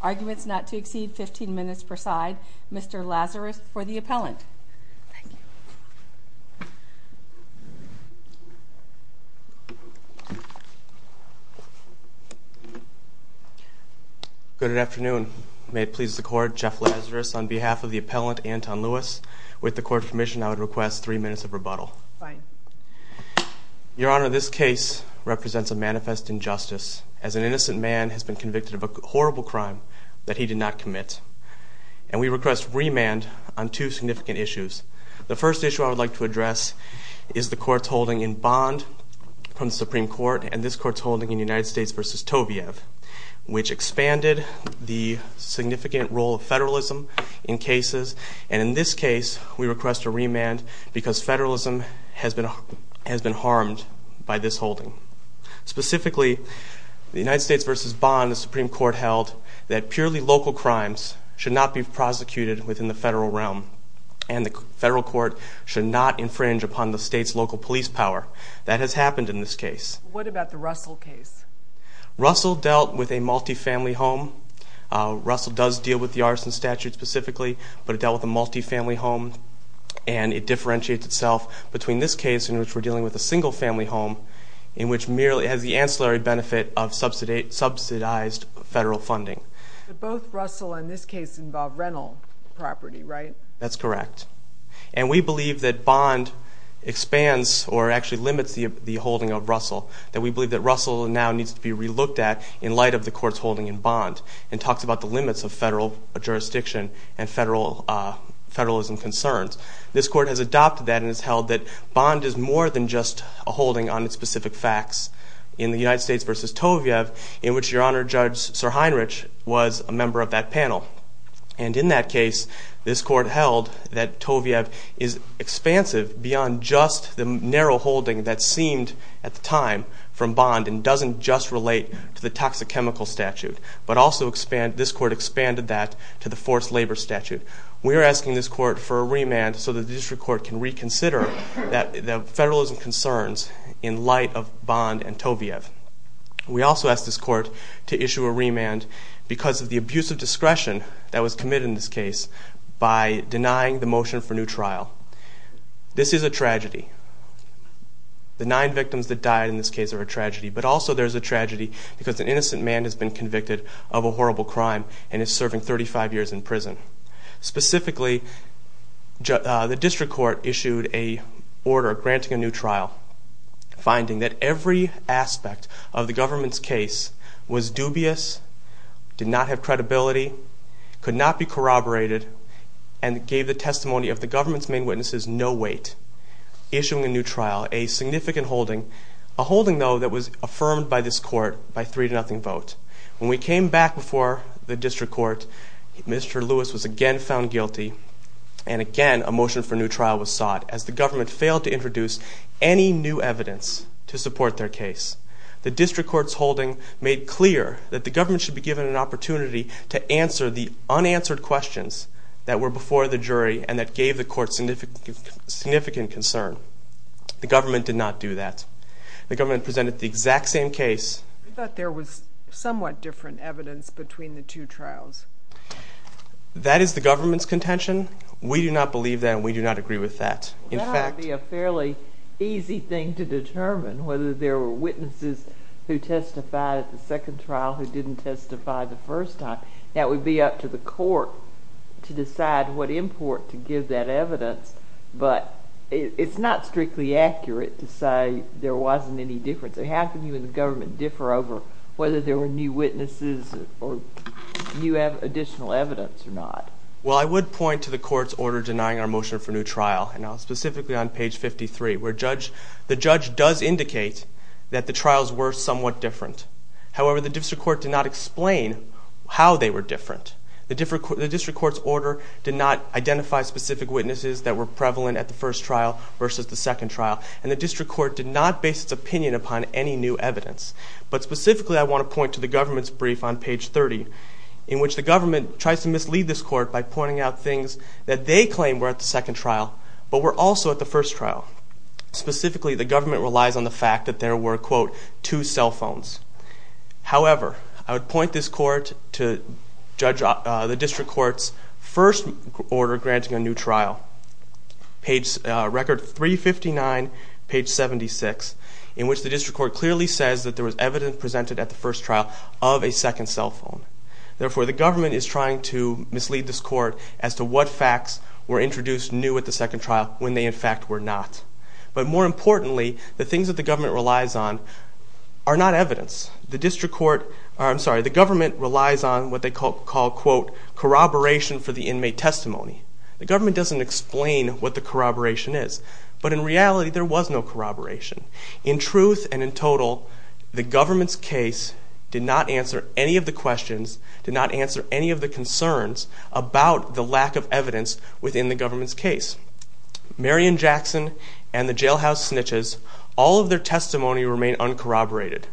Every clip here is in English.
arguments not to exceed 15 minutes per side. Mr. Lazarus for the appellant. Good afternoon. May it please the Court, Jeff Lazarus on behalf of the appellant Antun Lewis. With the Court's permission I would request three minutes of rebuttal. Fine. Your Honor, this case represents a manifest injustice as an innocent man has been convicted of a horrible crime that he did not commit. And we request remand on two significant issues. The first issue I would like to address is the Court's holding in bond from the Supreme Court and this Court's holding in United States v. Toviev, which expanded the significant role of federalism in cases. And in this case we request a remand because federalism has been harmed by this holding. Specifically, the United States v. Bond, the Supreme Court held that purely local crimes should not be prosecuted within the federal realm and the federal court should not infringe upon the state's local police power. That has happened in this case. What about the Russell case? Russell dealt with a multifamily home. Russell does deal with the arson statute specifically, but it dealt with a multifamily home and it differentiates itself between this case in which we're dealing with a single family home in which merely it has the ancillary benefit of subsidized federal funding. But both Russell and this case involve rental property, right? That's correct. And we believe that Bond expands or actually limits the holding of Russell. That we believe that Russell now needs to be relooked at in light of the Court's holding in Bond and talks about the limits of federal jurisdiction and federalism concerns. This Court has adopted that and has held that Bond is more than just a holding on its specific facts. In the United States v. Toviev, in which Your Honor Judge Sir Heinrich was a member of that panel. And in that case, this Court held that Toviev is expansive beyond just the narrow holding that seemed at the time from Bond and doesn't just relate to the toxic chemical statute, but also this Court expanded that to the forced labor statute. We are asking this Court for a remand so that the district court can reconsider the federalism concerns in light of Bond and Toviev. We also ask this Court to issue a remand because of the abuse of discretion that was committed in this case by denying the motion for new trial. This is a tragedy. The nine victims that died in this case are a tragedy. But also there's a tragedy because an innocent man has been convicted of a horrible crime and is serving 35 years in prison. Specifically, the district court issued an order granting a new trial. Finding that every aspect of the government's case was dubious, did not have credibility, could not be corroborated, and gave the testimony of the government's main witnesses no weight. Issuing a new trial, a significant holding, a holding though that was affirmed by this Court by 3-0 vote. When we came back before the district court, Mr. Lewis was again found guilty. And again, a motion for new trial was sought as the government failed to introduce any new evidence to support their case. The district court's holding made clear that the government should be given an opportunity to answer the unanswered questions that were before the jury and that gave the court significant concern. The government did not do that. The government presented the exact same case. I thought there was somewhat different evidence between the two trials. That is the government's contention. We do not believe that and we do not agree with that. It would be a fairly easy thing to determine whether there were witnesses who testified at the second trial who didn't testify the first time. That would be up to the court to decide what import to give that evidence. But it's not strictly accurate to say there wasn't any difference. So how can you and the government differ over whether there were new witnesses or new additional evidence or not? Well, I would point to the court's order denying our motion for new trial, specifically on page 53 where the judge does indicate that the trials were somewhat different. However, the district court did not explain how they were different. The district court's order did not identify specific witnesses that were prevalent at the first trial versus the second trial. And the district court did not base its opinion upon any new evidence. But specifically, I want to point to the government's brief on page 30 in which the government tries to mislead this court by pointing out things that they claim were at the second trial but were also at the first trial. Specifically, the government relies on the fact that there were, quote, two cell phones. However, I would point this court to judge the district court's first order granting a new trial. Record 359, page 76, in which the district court clearly says that there was evidence presented at the first trial of a second cell phone. Therefore, the government is trying to mislead this court as to what facts were introduced new at the second trial when they, in fact, were not. But more importantly, the things that the government relies on are not evidence. The government relies on what they call, quote, corroboration for the inmate testimony. The government doesn't explain what the corroboration is. But in reality, there was no corroboration. In truth and in total, the government's case did not answer any of the questions, did not answer any of the concerns about the lack of evidence within the government's case. Marion Jackson and the jailhouse snitches, all of their testimony remained uncorroborated.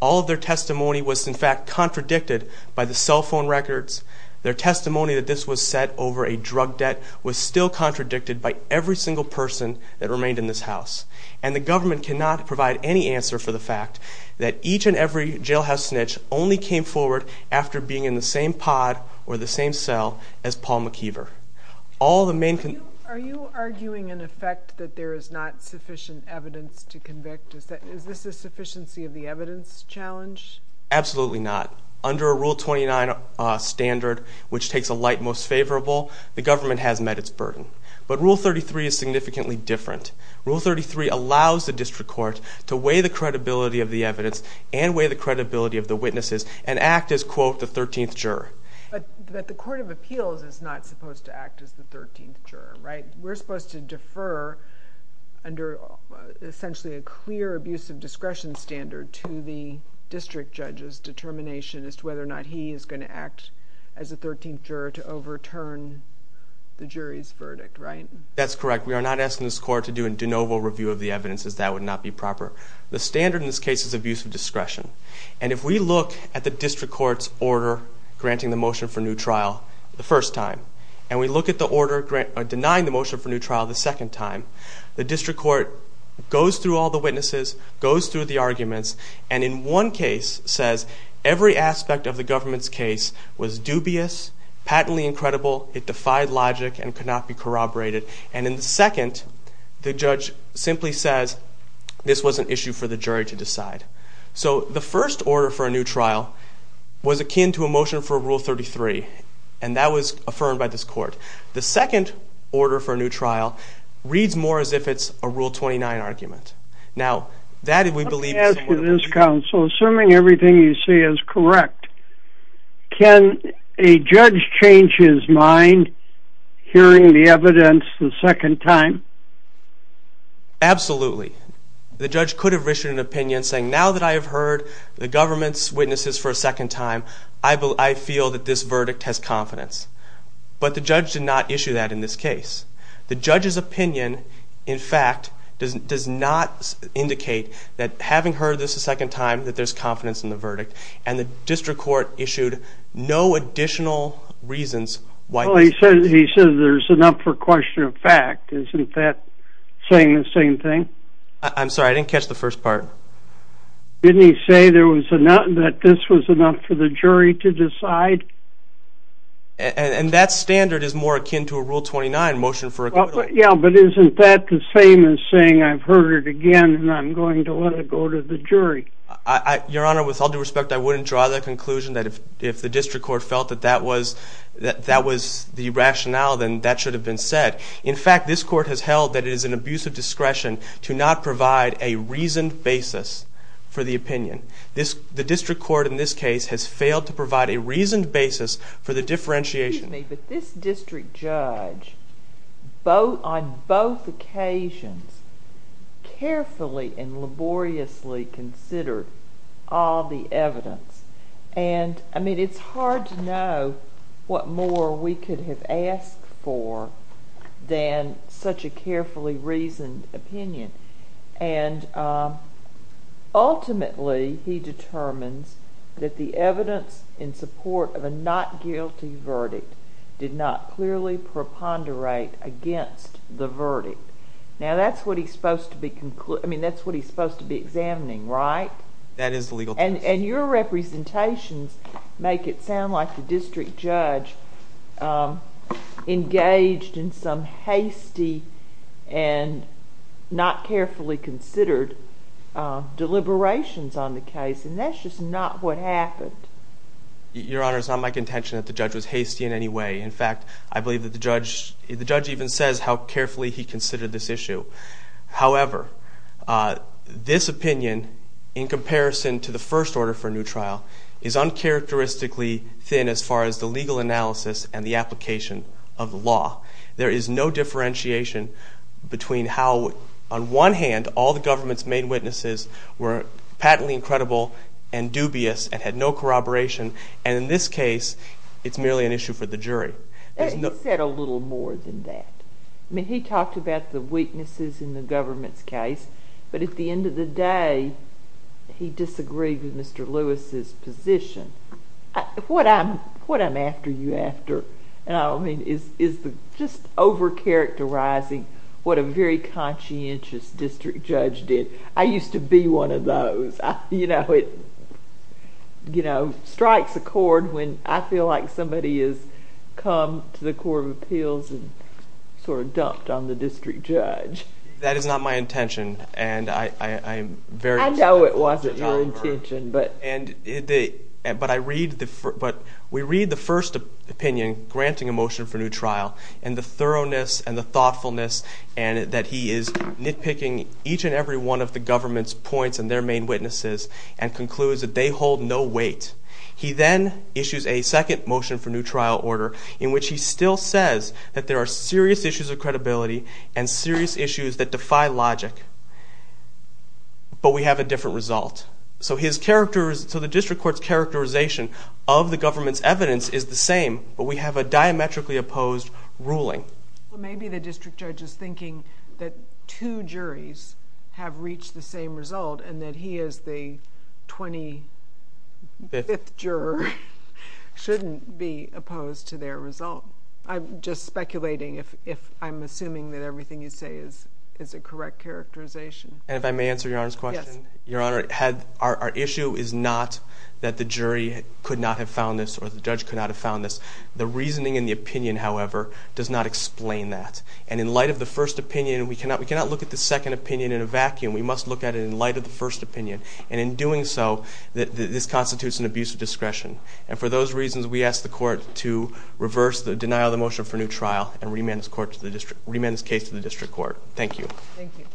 All of their testimony was, in fact, contradicted by the cell phone records, their testimony that this was set over a drug debt was still contradicted by every single person that remained in this house. And the government cannot provide any answer for the fact that each and every jailhouse snitch only came forward after being in the same pod or the same cell as Paul McKeever. Are you arguing, in effect, that there is not sufficient evidence to convict? Is this a sufficiency of the evidence challenge? Absolutely not. Under a Rule 29 standard, which takes a light most favorable, the government has met its burden. But Rule 33 is significantly different. Rule 33 allows the district court to weigh the credibility of the evidence and weigh the credibility of the witnesses and act as, quote, the 13th juror. But the court of appeals is not supposed to act as the 13th juror, right? We're supposed to defer under essentially a clear abuse of discretion standard to the district judge's determination as to whether or not he is going to act as the 13th juror to overturn the jury's verdict, right? That's correct. We are not asking this court to do a de novo review of the evidence, as that would not be proper. The standard in this case is abuse of discretion. And if we look at the district court's order granting the motion for new trial the first time and we look at the order denying the motion for new trial the second time, the district court goes through all the witnesses, goes through the arguments, and in one case says every aspect of the government's case was dubious, patently incredible, it defied logic, and could not be corroborated. And in the second, the judge simply says this was an issue for the jury to decide. So the first order for a new trial was akin to a motion for Rule 33. And that was affirmed by this court. The second order for a new trial reads more as if it's a Rule 29 argument. Now, that we believe is... Let me ask you this, counsel. Assuming everything you say is correct, can a judge change his mind hearing the evidence the second time? Absolutely. The judge could have issued an opinion saying, now that I have heard the government's witnesses for a second time, I feel that this verdict has confidence. But the judge did not issue that in this case. The judge's opinion, in fact, does not indicate that having heard this a second time, that there's confidence in the verdict. And the district court issued no additional reasons why... Well, he said there's enough for question of fact. Isn't that saying the same thing? I'm sorry, I didn't catch the first part. Didn't he say that this was enough for the jury to decide? And that standard is more akin to a Rule 29 motion for a... Yeah, but isn't that the same as saying I've heard it again and I'm going to let it go to the jury? Your Honor, with all due respect, I wouldn't draw that conclusion that if the district court felt that that was the rationale, then that should have been said. In fact, this court has held that it is an abuse of discretion to not provide a reasoned basis for the opinion. The district court in this case has failed to provide a reasoned basis for the differentiation. Excuse me, but this district judge, on both occasions, carefully and laboriously considered all the evidence. And, I mean, it's hard to know what more we could have asked for than such a carefully reasoned opinion. And, ultimately, he determines that the evidence in support of a not guilty verdict did not clearly preponderate against the verdict. Now, that's what he's supposed to be examining, right? That is the legal test. And your representations make it sound like the district judge engaged in some hasty and not carefully considered deliberations on the case, and that's just not what happened. Your Honor, it's not my contention that the judge was hasty in any way. In fact, I believe that the judge even says how carefully he considered this issue. However, this opinion, in comparison to the first order for a new trial, is uncharacteristically thin as far as the legal analysis and the application of the law. There is no differentiation between how, on one hand, all the government's main witnesses were patently incredible and dubious and had no corroboration, and, in this case, it's merely an issue for the jury. He said a little more than that. I mean, he talked about the weaknesses in the government's case, but at the end of the day, he disagreed with Mr. Lewis's position. What I'm after you after, and I don't mean, is just overcharacterizing what a very conscientious district judge did. I used to be one of those. You know, it strikes a chord when I feel like somebody has come to the Court of Appeals and sort of dumped on the district judge. That is not my intention, and I'm very upset. I know it wasn't your intention. But we read the first opinion, granting a motion for a new trial, and the thoroughness and the thoughtfulness that he is nitpicking each and every one of the government's points and their main witnesses and concludes that they hold no weight. He then issues a second motion for a new trial order in which he still says that there are serious issues of credibility and serious issues that defy logic, but we have a different result. So the district court's characterization of the government's evidence is the same, but we have a diametrically opposed ruling. Maybe the district judge is thinking that two juries have reached the same result and that he as the 25th juror shouldn't be opposed to their result. I'm just speculating if I'm assuming that everything you say is a correct characterization. And if I may answer Your Honor's question? Yes. Your Honor, our issue is not that the jury could not have found this or the judge could not have found this. The reasoning and the opinion, however, does not explain that. And in light of the first opinion, we cannot look at the second opinion in a vacuum. We must look at it in light of the first opinion. And in doing so, this constitutes an abuse of discretion. And for those reasons, we ask the court to reverse the denial of the motion for new trial and remand this case to the district court. Thank you. Thank you.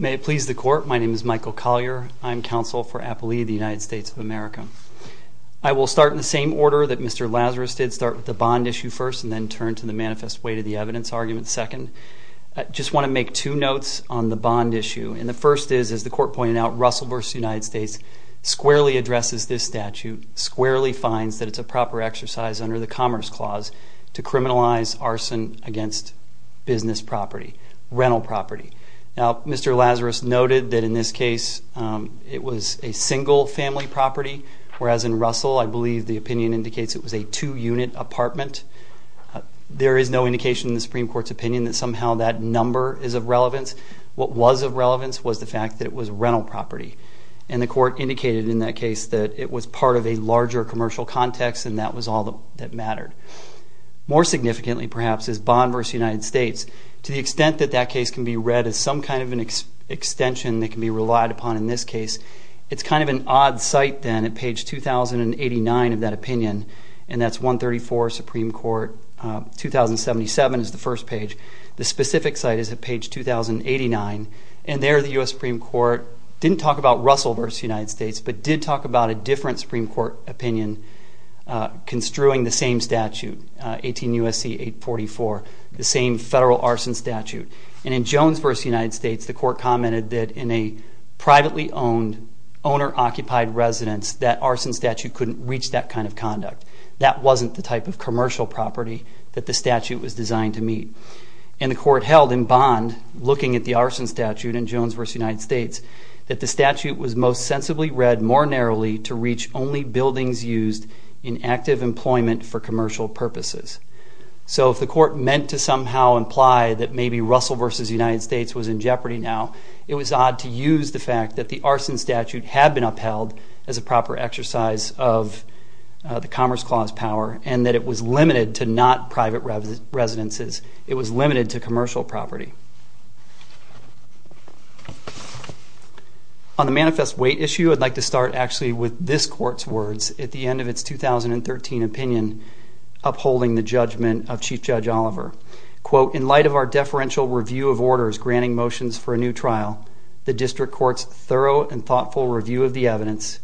May it please the court, my name is Michael Collier. I'm counsel for Appalee, the United States of America. I will start in the same order that Mr. Lazarus did, start with the bond issue first and then turn to the manifest weight of the evidence argument second. I just want to make two notes on the bond issue. And the first is, as the court pointed out, Russell v. United States squarely addresses this statute, squarely finds that it's a proper exercise under the Commerce Clause to criminalize arson against business property, rental property. Now, Mr. Lazarus noted that in this case, it was a single family property, whereas in Russell, I believe the opinion indicates it was a two-unit apartment. There is no indication in the Supreme Court's opinion that somehow that number is of relevance. What was of relevance was the fact that it was rental property. And the court indicated in that case that it was part of a larger commercial context and that was all that mattered. More significantly, perhaps, is Bond v. United States. To the extent that that case can be read as some kind of an extension that can be relied upon in this case, it's kind of an odd site then at page 2089 of that opinion, and that's 134 Supreme Court, 2077 is the first page. The specific site is at page 2089. And there the U.S. Supreme Court didn't talk about Russell v. United States, but did talk about a different Supreme Court opinion construing the same statute, 18 U.S.C. 844, the same federal arson statute. And in Jones v. United States, the court commented that in a privately owned, owner-occupied residence, that arson statute couldn't reach that kind of conduct. That wasn't the type of commercial property that the statute was designed to meet. And the court held in Bond, looking at the arson statute in Jones v. United States, that the statute was most sensibly read more narrowly to reach only buildings used in active employment for commercial purposes. So if the court meant to somehow imply that maybe Russell v. United States was in jeopardy now, it was odd to use the fact that the arson statute had been upheld as a proper exercise of the Commerce Clause power, and that it was limited to not private residences. It was limited to commercial property. On the manifest weight issue, I'd like to start actually with this court's words at the end of its 2013 opinion upholding the judgment of Chief Judge Oliver. Quote, in light of our deferential review of orders granting motions for a new trial, the district court's thorough and thoughtful review of the evidence,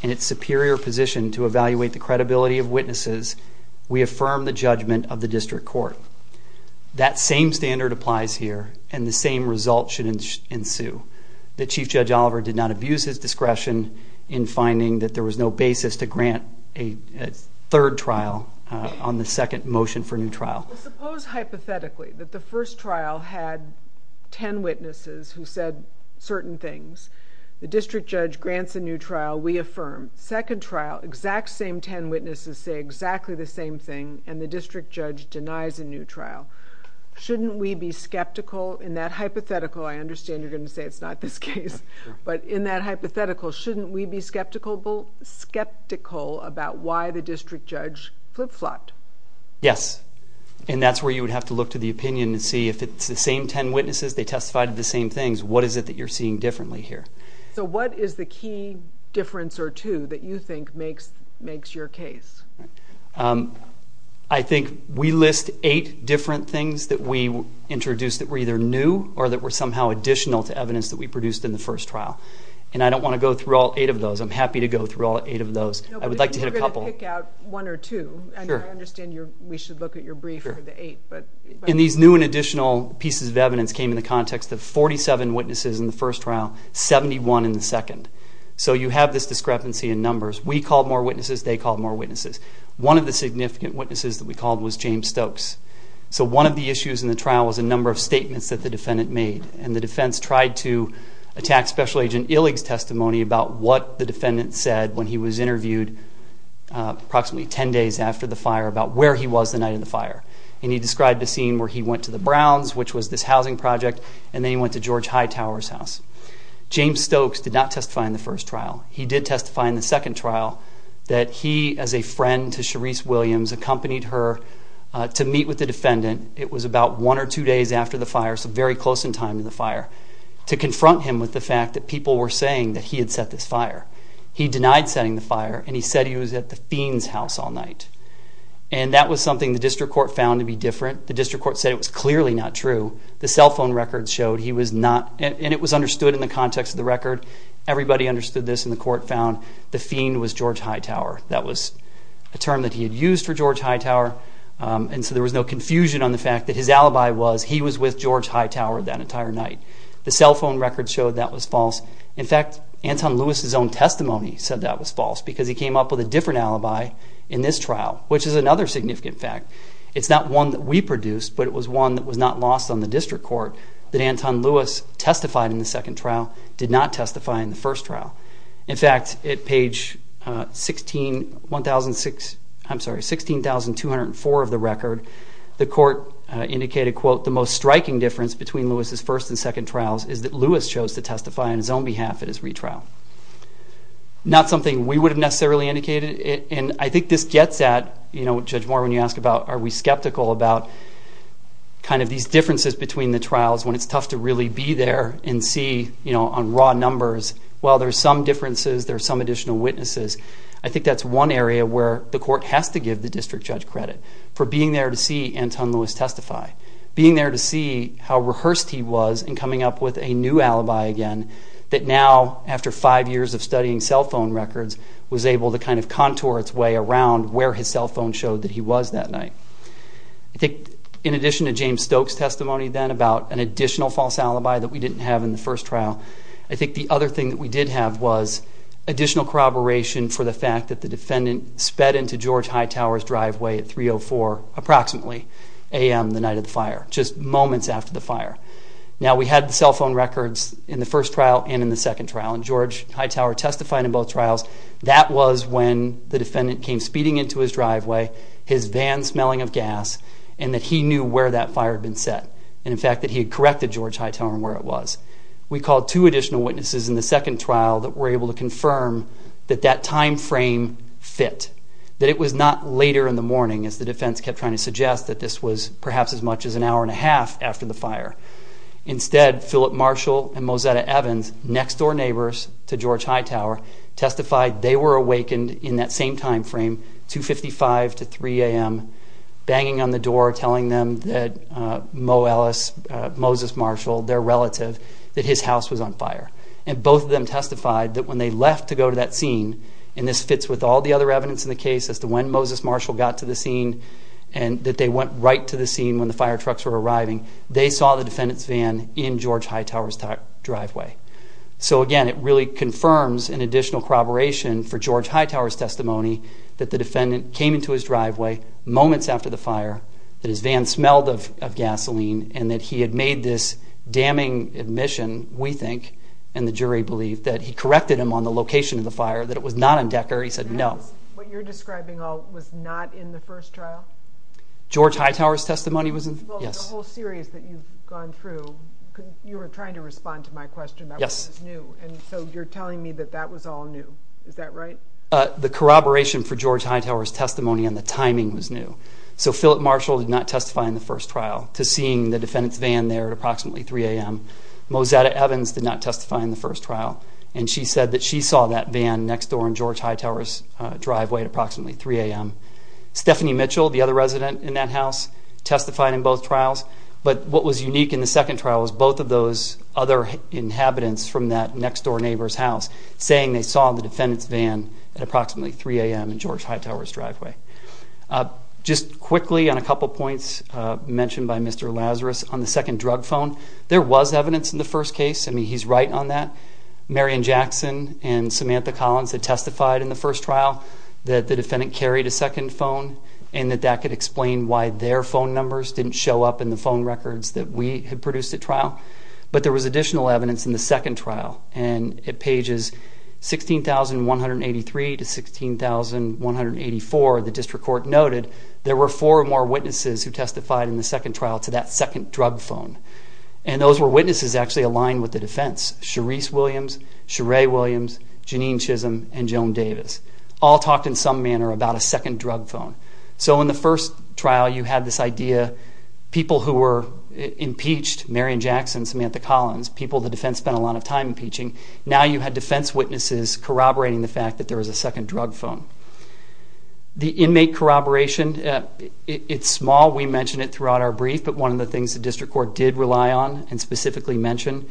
and its superior position to evaluate the credibility of witnesses, we affirm the judgment of the district court. That same standard applies here, and the same result should ensue. That Chief Judge Oliver did not abuse his discretion in finding that there was no basis to grant a third trial on the second motion for a new trial. Well, suppose hypothetically that the first trial had 10 witnesses who said certain things. The district judge grants a new trial. We affirm. Second trial, exact same 10 witnesses say exactly the same thing, and the district judge denies a new trial. Shouldn't we be skeptical in that hypothetical? I understand you're going to say it's not this case, but in that hypothetical, shouldn't we be skeptical about why the district judge flip-flopped? Yes, and that's where you would have to look to the opinion and see if it's the same 10 witnesses, they testified to the same things, what is it that you're seeing differently here? So what is the key difference or two that you think makes your case? I think we list eight different things that we introduced that were either new or that were somehow additional to evidence that we produced in the first trial, and I don't want to go through all eight of those. I'm happy to go through all eight of those. I would like to hit a couple. We're going to pick out one or two, and I understand we should look at your brief for the eight. And these new and additional pieces of evidence came in the context of 47 witnesses in the first trial, 71 in the second. So you have this discrepancy in numbers. We called more witnesses. They called more witnesses. One of the significant witnesses that we called was James Stokes. So one of the issues in the trial was a number of statements that the defendant made, and the defense tried to attack Special Agent Illig's testimony about what the defendant said when he was interviewed approximately 10 days after the fire about where he was the night of the fire. And he described a scene where he went to the Browns, which was this housing project, and then he went to George Hightower's house. James Stokes did not testify in the first trial. He did testify in the second trial that he, as a friend to Sharice Williams, accompanied her to meet with the defendant. It was about one or two days after the fire, so very close in time to the fire, to confront him with the fact that people were saying that he had set this fire. He denied setting the fire, and he said he was at the Fiend's house all night. And that was something the district court found to be different. The district court said it was clearly not true. The cell phone records showed he was not, and it was understood in the context of the record. Everybody understood this, and the court found the Fiend was George Hightower. That was a term that he had used for George Hightower, and so there was no confusion on the fact that his alibi was he was with George Hightower that entire night. The cell phone records showed that was false. In fact, Anton Lewis's own testimony said that was false because he came up with a different alibi in this trial, which is another significant fact. It's not one that we produced, but it was one that was not lost on the district court, that Anton Lewis testified in the second trial, did not testify in the first trial. In fact, at page 16,204 of the record, the court indicated, quote, the most striking difference between Lewis's first and second trials is that Lewis chose to testify on his own behalf at his retrial. Not something we would have necessarily indicated, and I think this gets at, you know, Judge Moore, when you ask about are we skeptical about kind of these differences between the trials when it's tough to really be there and see, you know, on raw numbers, well, there's some differences, there's some additional witnesses. I think that's one area where the court has to give the district judge credit for being there to see Anton Lewis testify, being there to see how rehearsed he was in coming up with a new alibi again that now, after five years of studying cell phone records, was able to kind of contour its way around where his cell phone showed that he was that night. I think in addition to James Stokes' testimony then about an additional false alibi that we didn't have in the first trial, I think the other thing that we did have was additional corroboration for the fact that the defendant sped into George Hightower's driveway at 3.04 approximately a.m. the night of the fire, just moments after the fire. Now, we had the cell phone records in the first trial and in the second trial, and George Hightower testified in both trials. That was when the defendant came speeding into his driveway, his van smelling of gas, and that he knew where that fire had been set and, in fact, that he had corrected George Hightower on where it was. We called two additional witnesses in the second trial that were able to confirm that that time frame fit, that it was not later in the morning, as the defense kept trying to suggest, that this was perhaps as much as an hour and a half after the fire. Instead, Philip Marshall and Mozetta Evans, next-door neighbors to George Hightower, testified they were awakened in that same time frame, 2.55 to 3.00 a.m., banging on the door telling them that Moses Marshall, their relative, that his house was on fire. And both of them testified that when they left to go to that scene, and this fits with all the other evidence in the case as to when Moses Marshall got to the scene and that they went right to the scene when the fire trucks were arriving, they saw the defendant's van in George Hightower's driveway. So, again, it really confirms an additional corroboration for George Hightower's testimony that the defendant came into his driveway moments after the fire, that his van smelled of gasoline, and that he had made this damning admission, we think, and the jury believed, that he corrected him on the location of the fire, that it was not in Decker. He said no. What you're describing all was not in the first trial? George Hightower's testimony was in the first trial, yes. Well, the whole series that you've gone through, you were trying to respond to my question about what was new, and so you're telling me that that was all new. Is that right? The corroboration for George Hightower's testimony and the timing was new. So Philip Marshall did not testify in the first trial to seeing the defendant's van there at approximately 3 a.m. Mozetta Evans did not testify in the first trial, and she said that she saw that van next door in George Hightower's driveway at approximately 3 a.m. Stephanie Mitchell, the other resident in that house, testified in both trials, but what was unique in the second trial was both of those other inhabitants from that next-door neighbor's house saying they saw the defendant's van at approximately 3 a.m. in George Hightower's driveway. Just quickly on a couple points mentioned by Mr. Lazarus, on the second drug phone, there was evidence in the first case. I mean, he's right on that. Marion Jackson and Samantha Collins had testified in the first trial that the defendant carried a second phone and that that could explain why their phone numbers didn't show up in the phone records that we had produced at trial. But there was additional evidence in the second trial, and at pages 16,183 to 16,184, the district court noted there were four or more witnesses who testified in the second trial to that second drug phone, and those were witnesses actually aligned with the defense, Sharice Williams, Sheree Williams, Janine Chisholm, and Joan Davis. All talked in some manner about a second drug phone. So in the first trial, you had this idea, people who were impeached, Marion Jackson, Samantha Collins, people the defense spent a lot of time impeaching, now you had defense witnesses corroborating the fact that there was a second drug phone. The inmate corroboration, it's small. We mentioned it throughout our brief, but one of the things the district court did rely on and specifically mention,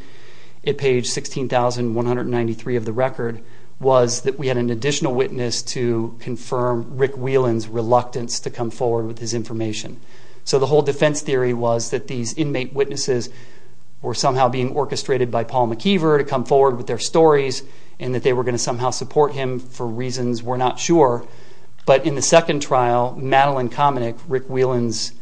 at page 16,193 of the record, was that we had an additional witness to confirm Rick Whelan's reluctance to come forward with his information. So the whole defense theory was that these inmate witnesses were somehow being orchestrated by Paul McKeever to come forward with their stories, and that they were going to somehow support him for reasons we're not sure. But in the second trial, Madeline Kamenik, Rick Whelan's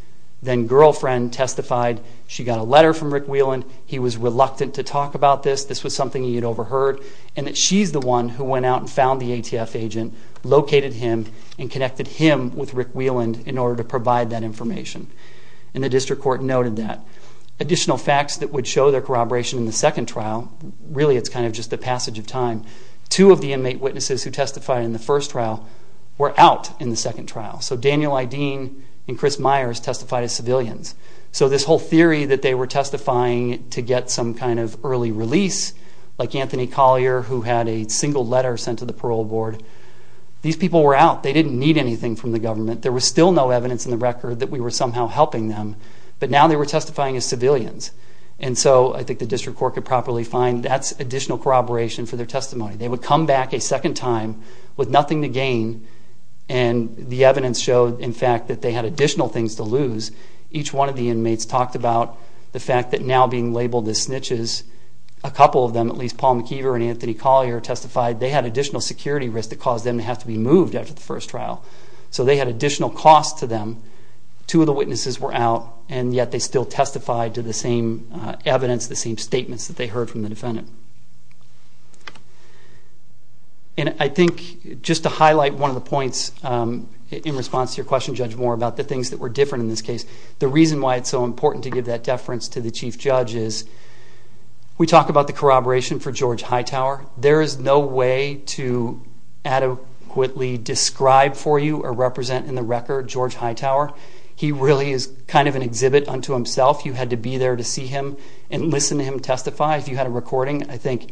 then-girlfriend, testified she got a letter from Rick Whelan. He was reluctant to talk about this. This was something he had overheard. And that she's the one who went out and found the ATF agent, located him, and connected him with Rick Whelan in order to provide that information. And the district court noted that. Additional facts that would show their corroboration in the second trial, really it's kind of just the passage of time, two of the inmate witnesses who testified in the first trial were out in the second trial. So Daniel Ideen and Chris Myers testified as civilians. So this whole theory that they were testifying to get some kind of early release, like Anthony Collier, who had a single letter sent to the parole board, these people were out. They didn't need anything from the government. There was still no evidence in the record that we were somehow helping them. But now they were testifying as civilians. And so I think the district court could properly find that's additional corroboration for their testimony. They would come back a second time with nothing to gain, and the evidence showed, in fact, that they had additional things to lose because each one of the inmates talked about the fact that now being labeled as snitches, a couple of them, at least Paul McKeever and Anthony Collier, testified they had additional security risks that caused them to have to be moved after the first trial. So they had additional costs to them. Two of the witnesses were out, and yet they still testified to the same evidence, the same statements that they heard from the defendant. And I think just to highlight one of the points in response to your question, Judge Moore, about the things that were different in this case, the reason why it's so important to give that deference to the chief judge is we talk about the corroboration for George Hightower. There is no way to adequately describe for you or represent in the record George Hightower. He really is kind of an exhibit unto himself. You had to be there to see him and listen to him testify. If you had a recording, I think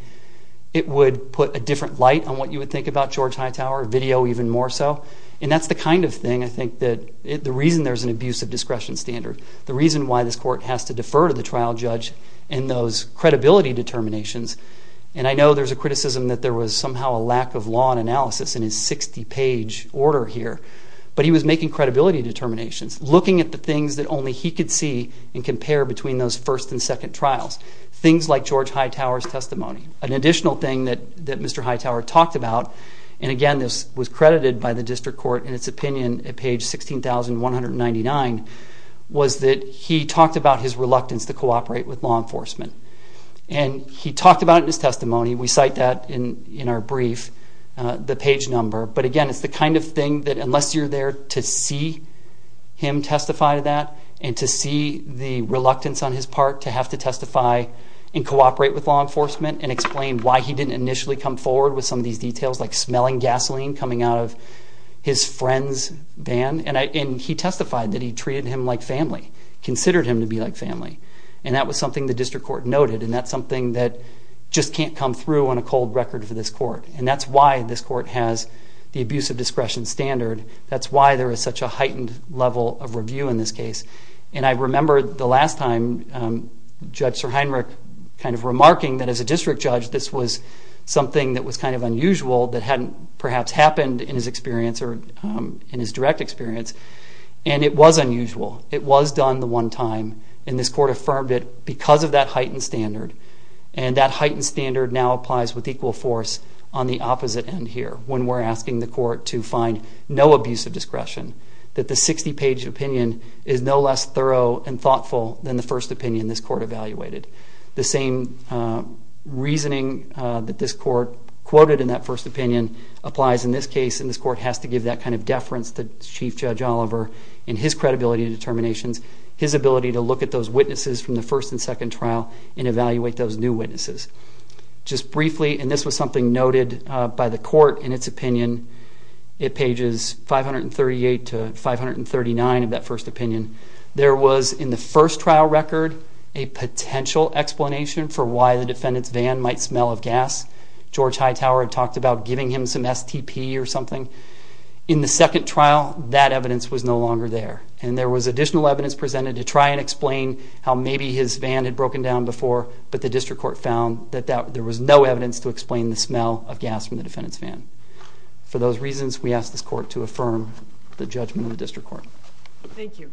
it would put a different light on what you would think about George Hightower, video even more so. And that's the kind of thing I think that the reason there's an abusive discretion standard, the reason why this court has to defer to the trial judge in those credibility determinations, and I know there's a criticism that there was somehow a lack of law and analysis in his 60-page order here, but he was making credibility determinations, looking at the things that only he could see and compare between those first and second trials, things like George Hightower's testimony, an additional thing that Mr. Hightower talked about, and again this was credited by the district court in its opinion at page 16,199, was that he talked about his reluctance to cooperate with law enforcement. And he talked about it in his testimony, we cite that in our brief, the page number, but again it's the kind of thing that unless you're there to see him testify to that and to see the reluctance on his part to have to testify and cooperate with law enforcement and explain why he didn't initially come forward with some of these details, like smelling gasoline coming out of his friend's van, and he testified that he treated him like family, considered him to be like family. And that was something the district court noted, and that's something that just can't come through on a cold record for this court. And that's why this court has the abusive discretion standard, that's why there is such a heightened level of review in this case. And I remember the last time Judge Sir Heinrich kind of remarking that as a district judge this was something that was kind of unusual that hadn't perhaps happened in his experience or in his direct experience, and it was unusual. It was done the one time, and this court affirmed it because of that heightened standard. And that heightened standard now applies with equal force on the opposite end here when we're asking the court to find no abusive discretion, that the 60-page opinion is no less thorough and thoughtful than the first opinion this court evaluated. The same reasoning that this court quoted in that first opinion applies in this case, and this court has to give that kind of deference to Chief Judge Oliver in his credibility determinations, his ability to look at those witnesses from the first and second trial and evaluate those new witnesses. Just briefly, and this was something noted by the court in its opinion, at pages 538 to 539 of that first opinion, there was in the first trial record a potential explanation for why the defendant's van might smell of gas. George Hightower had talked about giving him some STP or something. In the second trial, that evidence was no longer there, and there was additional evidence presented to try and explain how maybe his van had broken down before, but the district court found that there was no evidence to explain the smell of gas from the defendant's van. For those reasons, we ask this court to affirm the judgment of the district court. Thank you.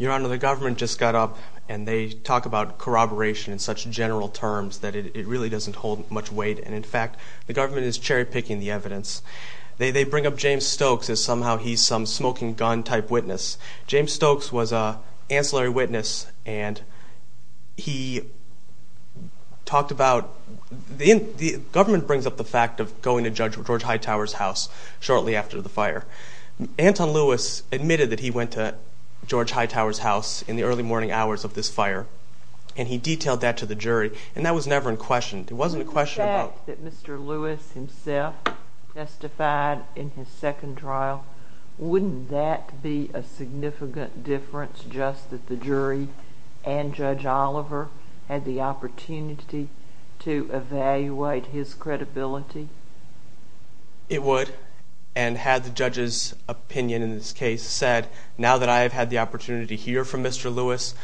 Your Honor, the government just got up, and they talk about corroboration in such general terms that it really doesn't hold much weight, and in fact the government is cherry-picking the evidence. They bring up James Stokes as somehow he's some smoking-gun type witness. James Stokes was an ancillary witness, and he talked about... The government brings up the fact of going to Judge George Hightower's house shortly after the fire. Anton Lewis admitted that he went to George Hightower's house in the early morning hours of this fire, and he detailed that to the jury, and that was never in question. It wasn't a question about... The fact that Mr. Lewis himself testified in his second trial, wouldn't that be a significant difference, just that the jury and Judge Oliver had the opportunity to evaluate his credibility? It would, and had the judge's opinion in this case said, now that I have had the opportunity to hear from Mr. Lewis,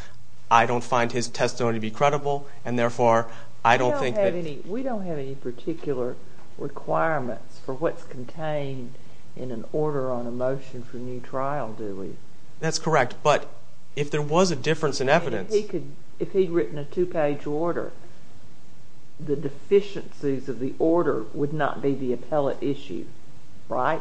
I don't find his testimony to be credible, and therefore I don't think that... We don't have any particular requirements for what's contained in an order on a motion for new trial, do we? That's correct, but if there was a difference in evidence... If he'd written a two-page order, the deficiencies of the order would not be the appellate issue, right?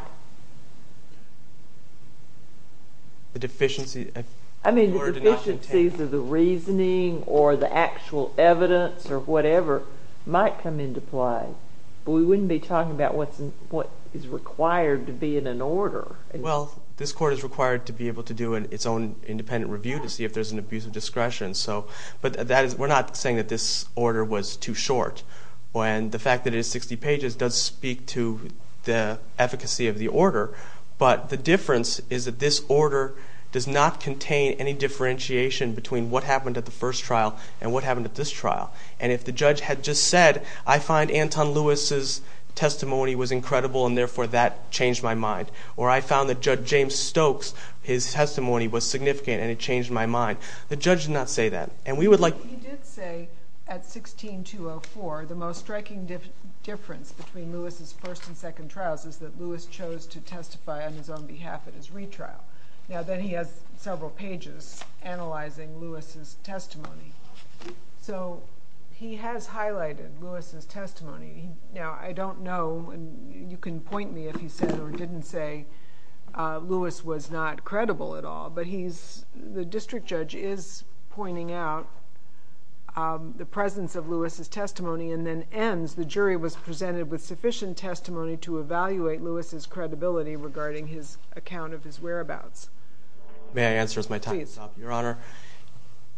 The deficiencies of the reasoning or the actual evidence or whatever might come into play, but we wouldn't be talking about what is required to be in an order. Well, this court is required to be able to do its own independent review to see if there's an abuse of discretion, but we're not saying that this order was too short. The fact that it is 60 pages does speak to the efficacy of the order, but the difference is that this order does not contain any differentiation between what happened at the first trial and what happened at this trial, and if the judge had just said, I find Anton Lewis's testimony was incredible, and therefore that changed my mind, or I found that Judge James Stokes, his testimony was significant, and it changed my mind, the judge would not say that, and we would like... He did say, at 16204, the most striking difference between Lewis's first and second trials is that Lewis chose to testify on his own behalf at his retrial. Now, then he has several pages analyzing Lewis's testimony. He has highlighted Lewis's testimony. Now, I don't know, and you can point me if he said or didn't say Lewis was not credible at all, but the district judge is pointing out the presence of Lewis's testimony and then ends, the jury was presented with sufficient testimony to evaluate Lewis's credibility regarding his account of his whereabouts. May I answer as my time is up, Your Honor?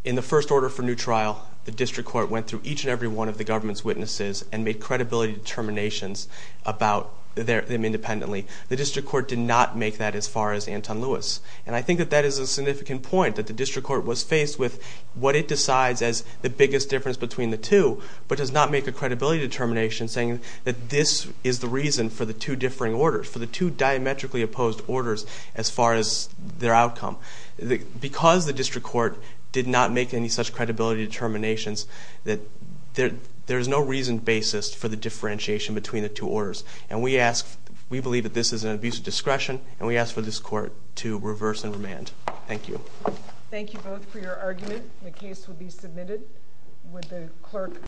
In the first order for new trial, the district court went through each and every one of the government's witnesses and made credibility determinations about them independently. The district court did not make that as far as Anton Lewis, and I think that that is a significant point, that the district court was faced with what it decides as the biggest difference between the two, but does not make a credibility determination saying that this is the reason for the two differing orders, for the two diametrically opposed orders as far as their outcome. Because the district court did not make any such credibility determinations, there is no reasoned basis for the differentiation between the two orders. We believe that this is an abuse of discretion, and we ask for this court to reverse and remand. Thank you both for your argument. The case will be submitted. Would the clerk...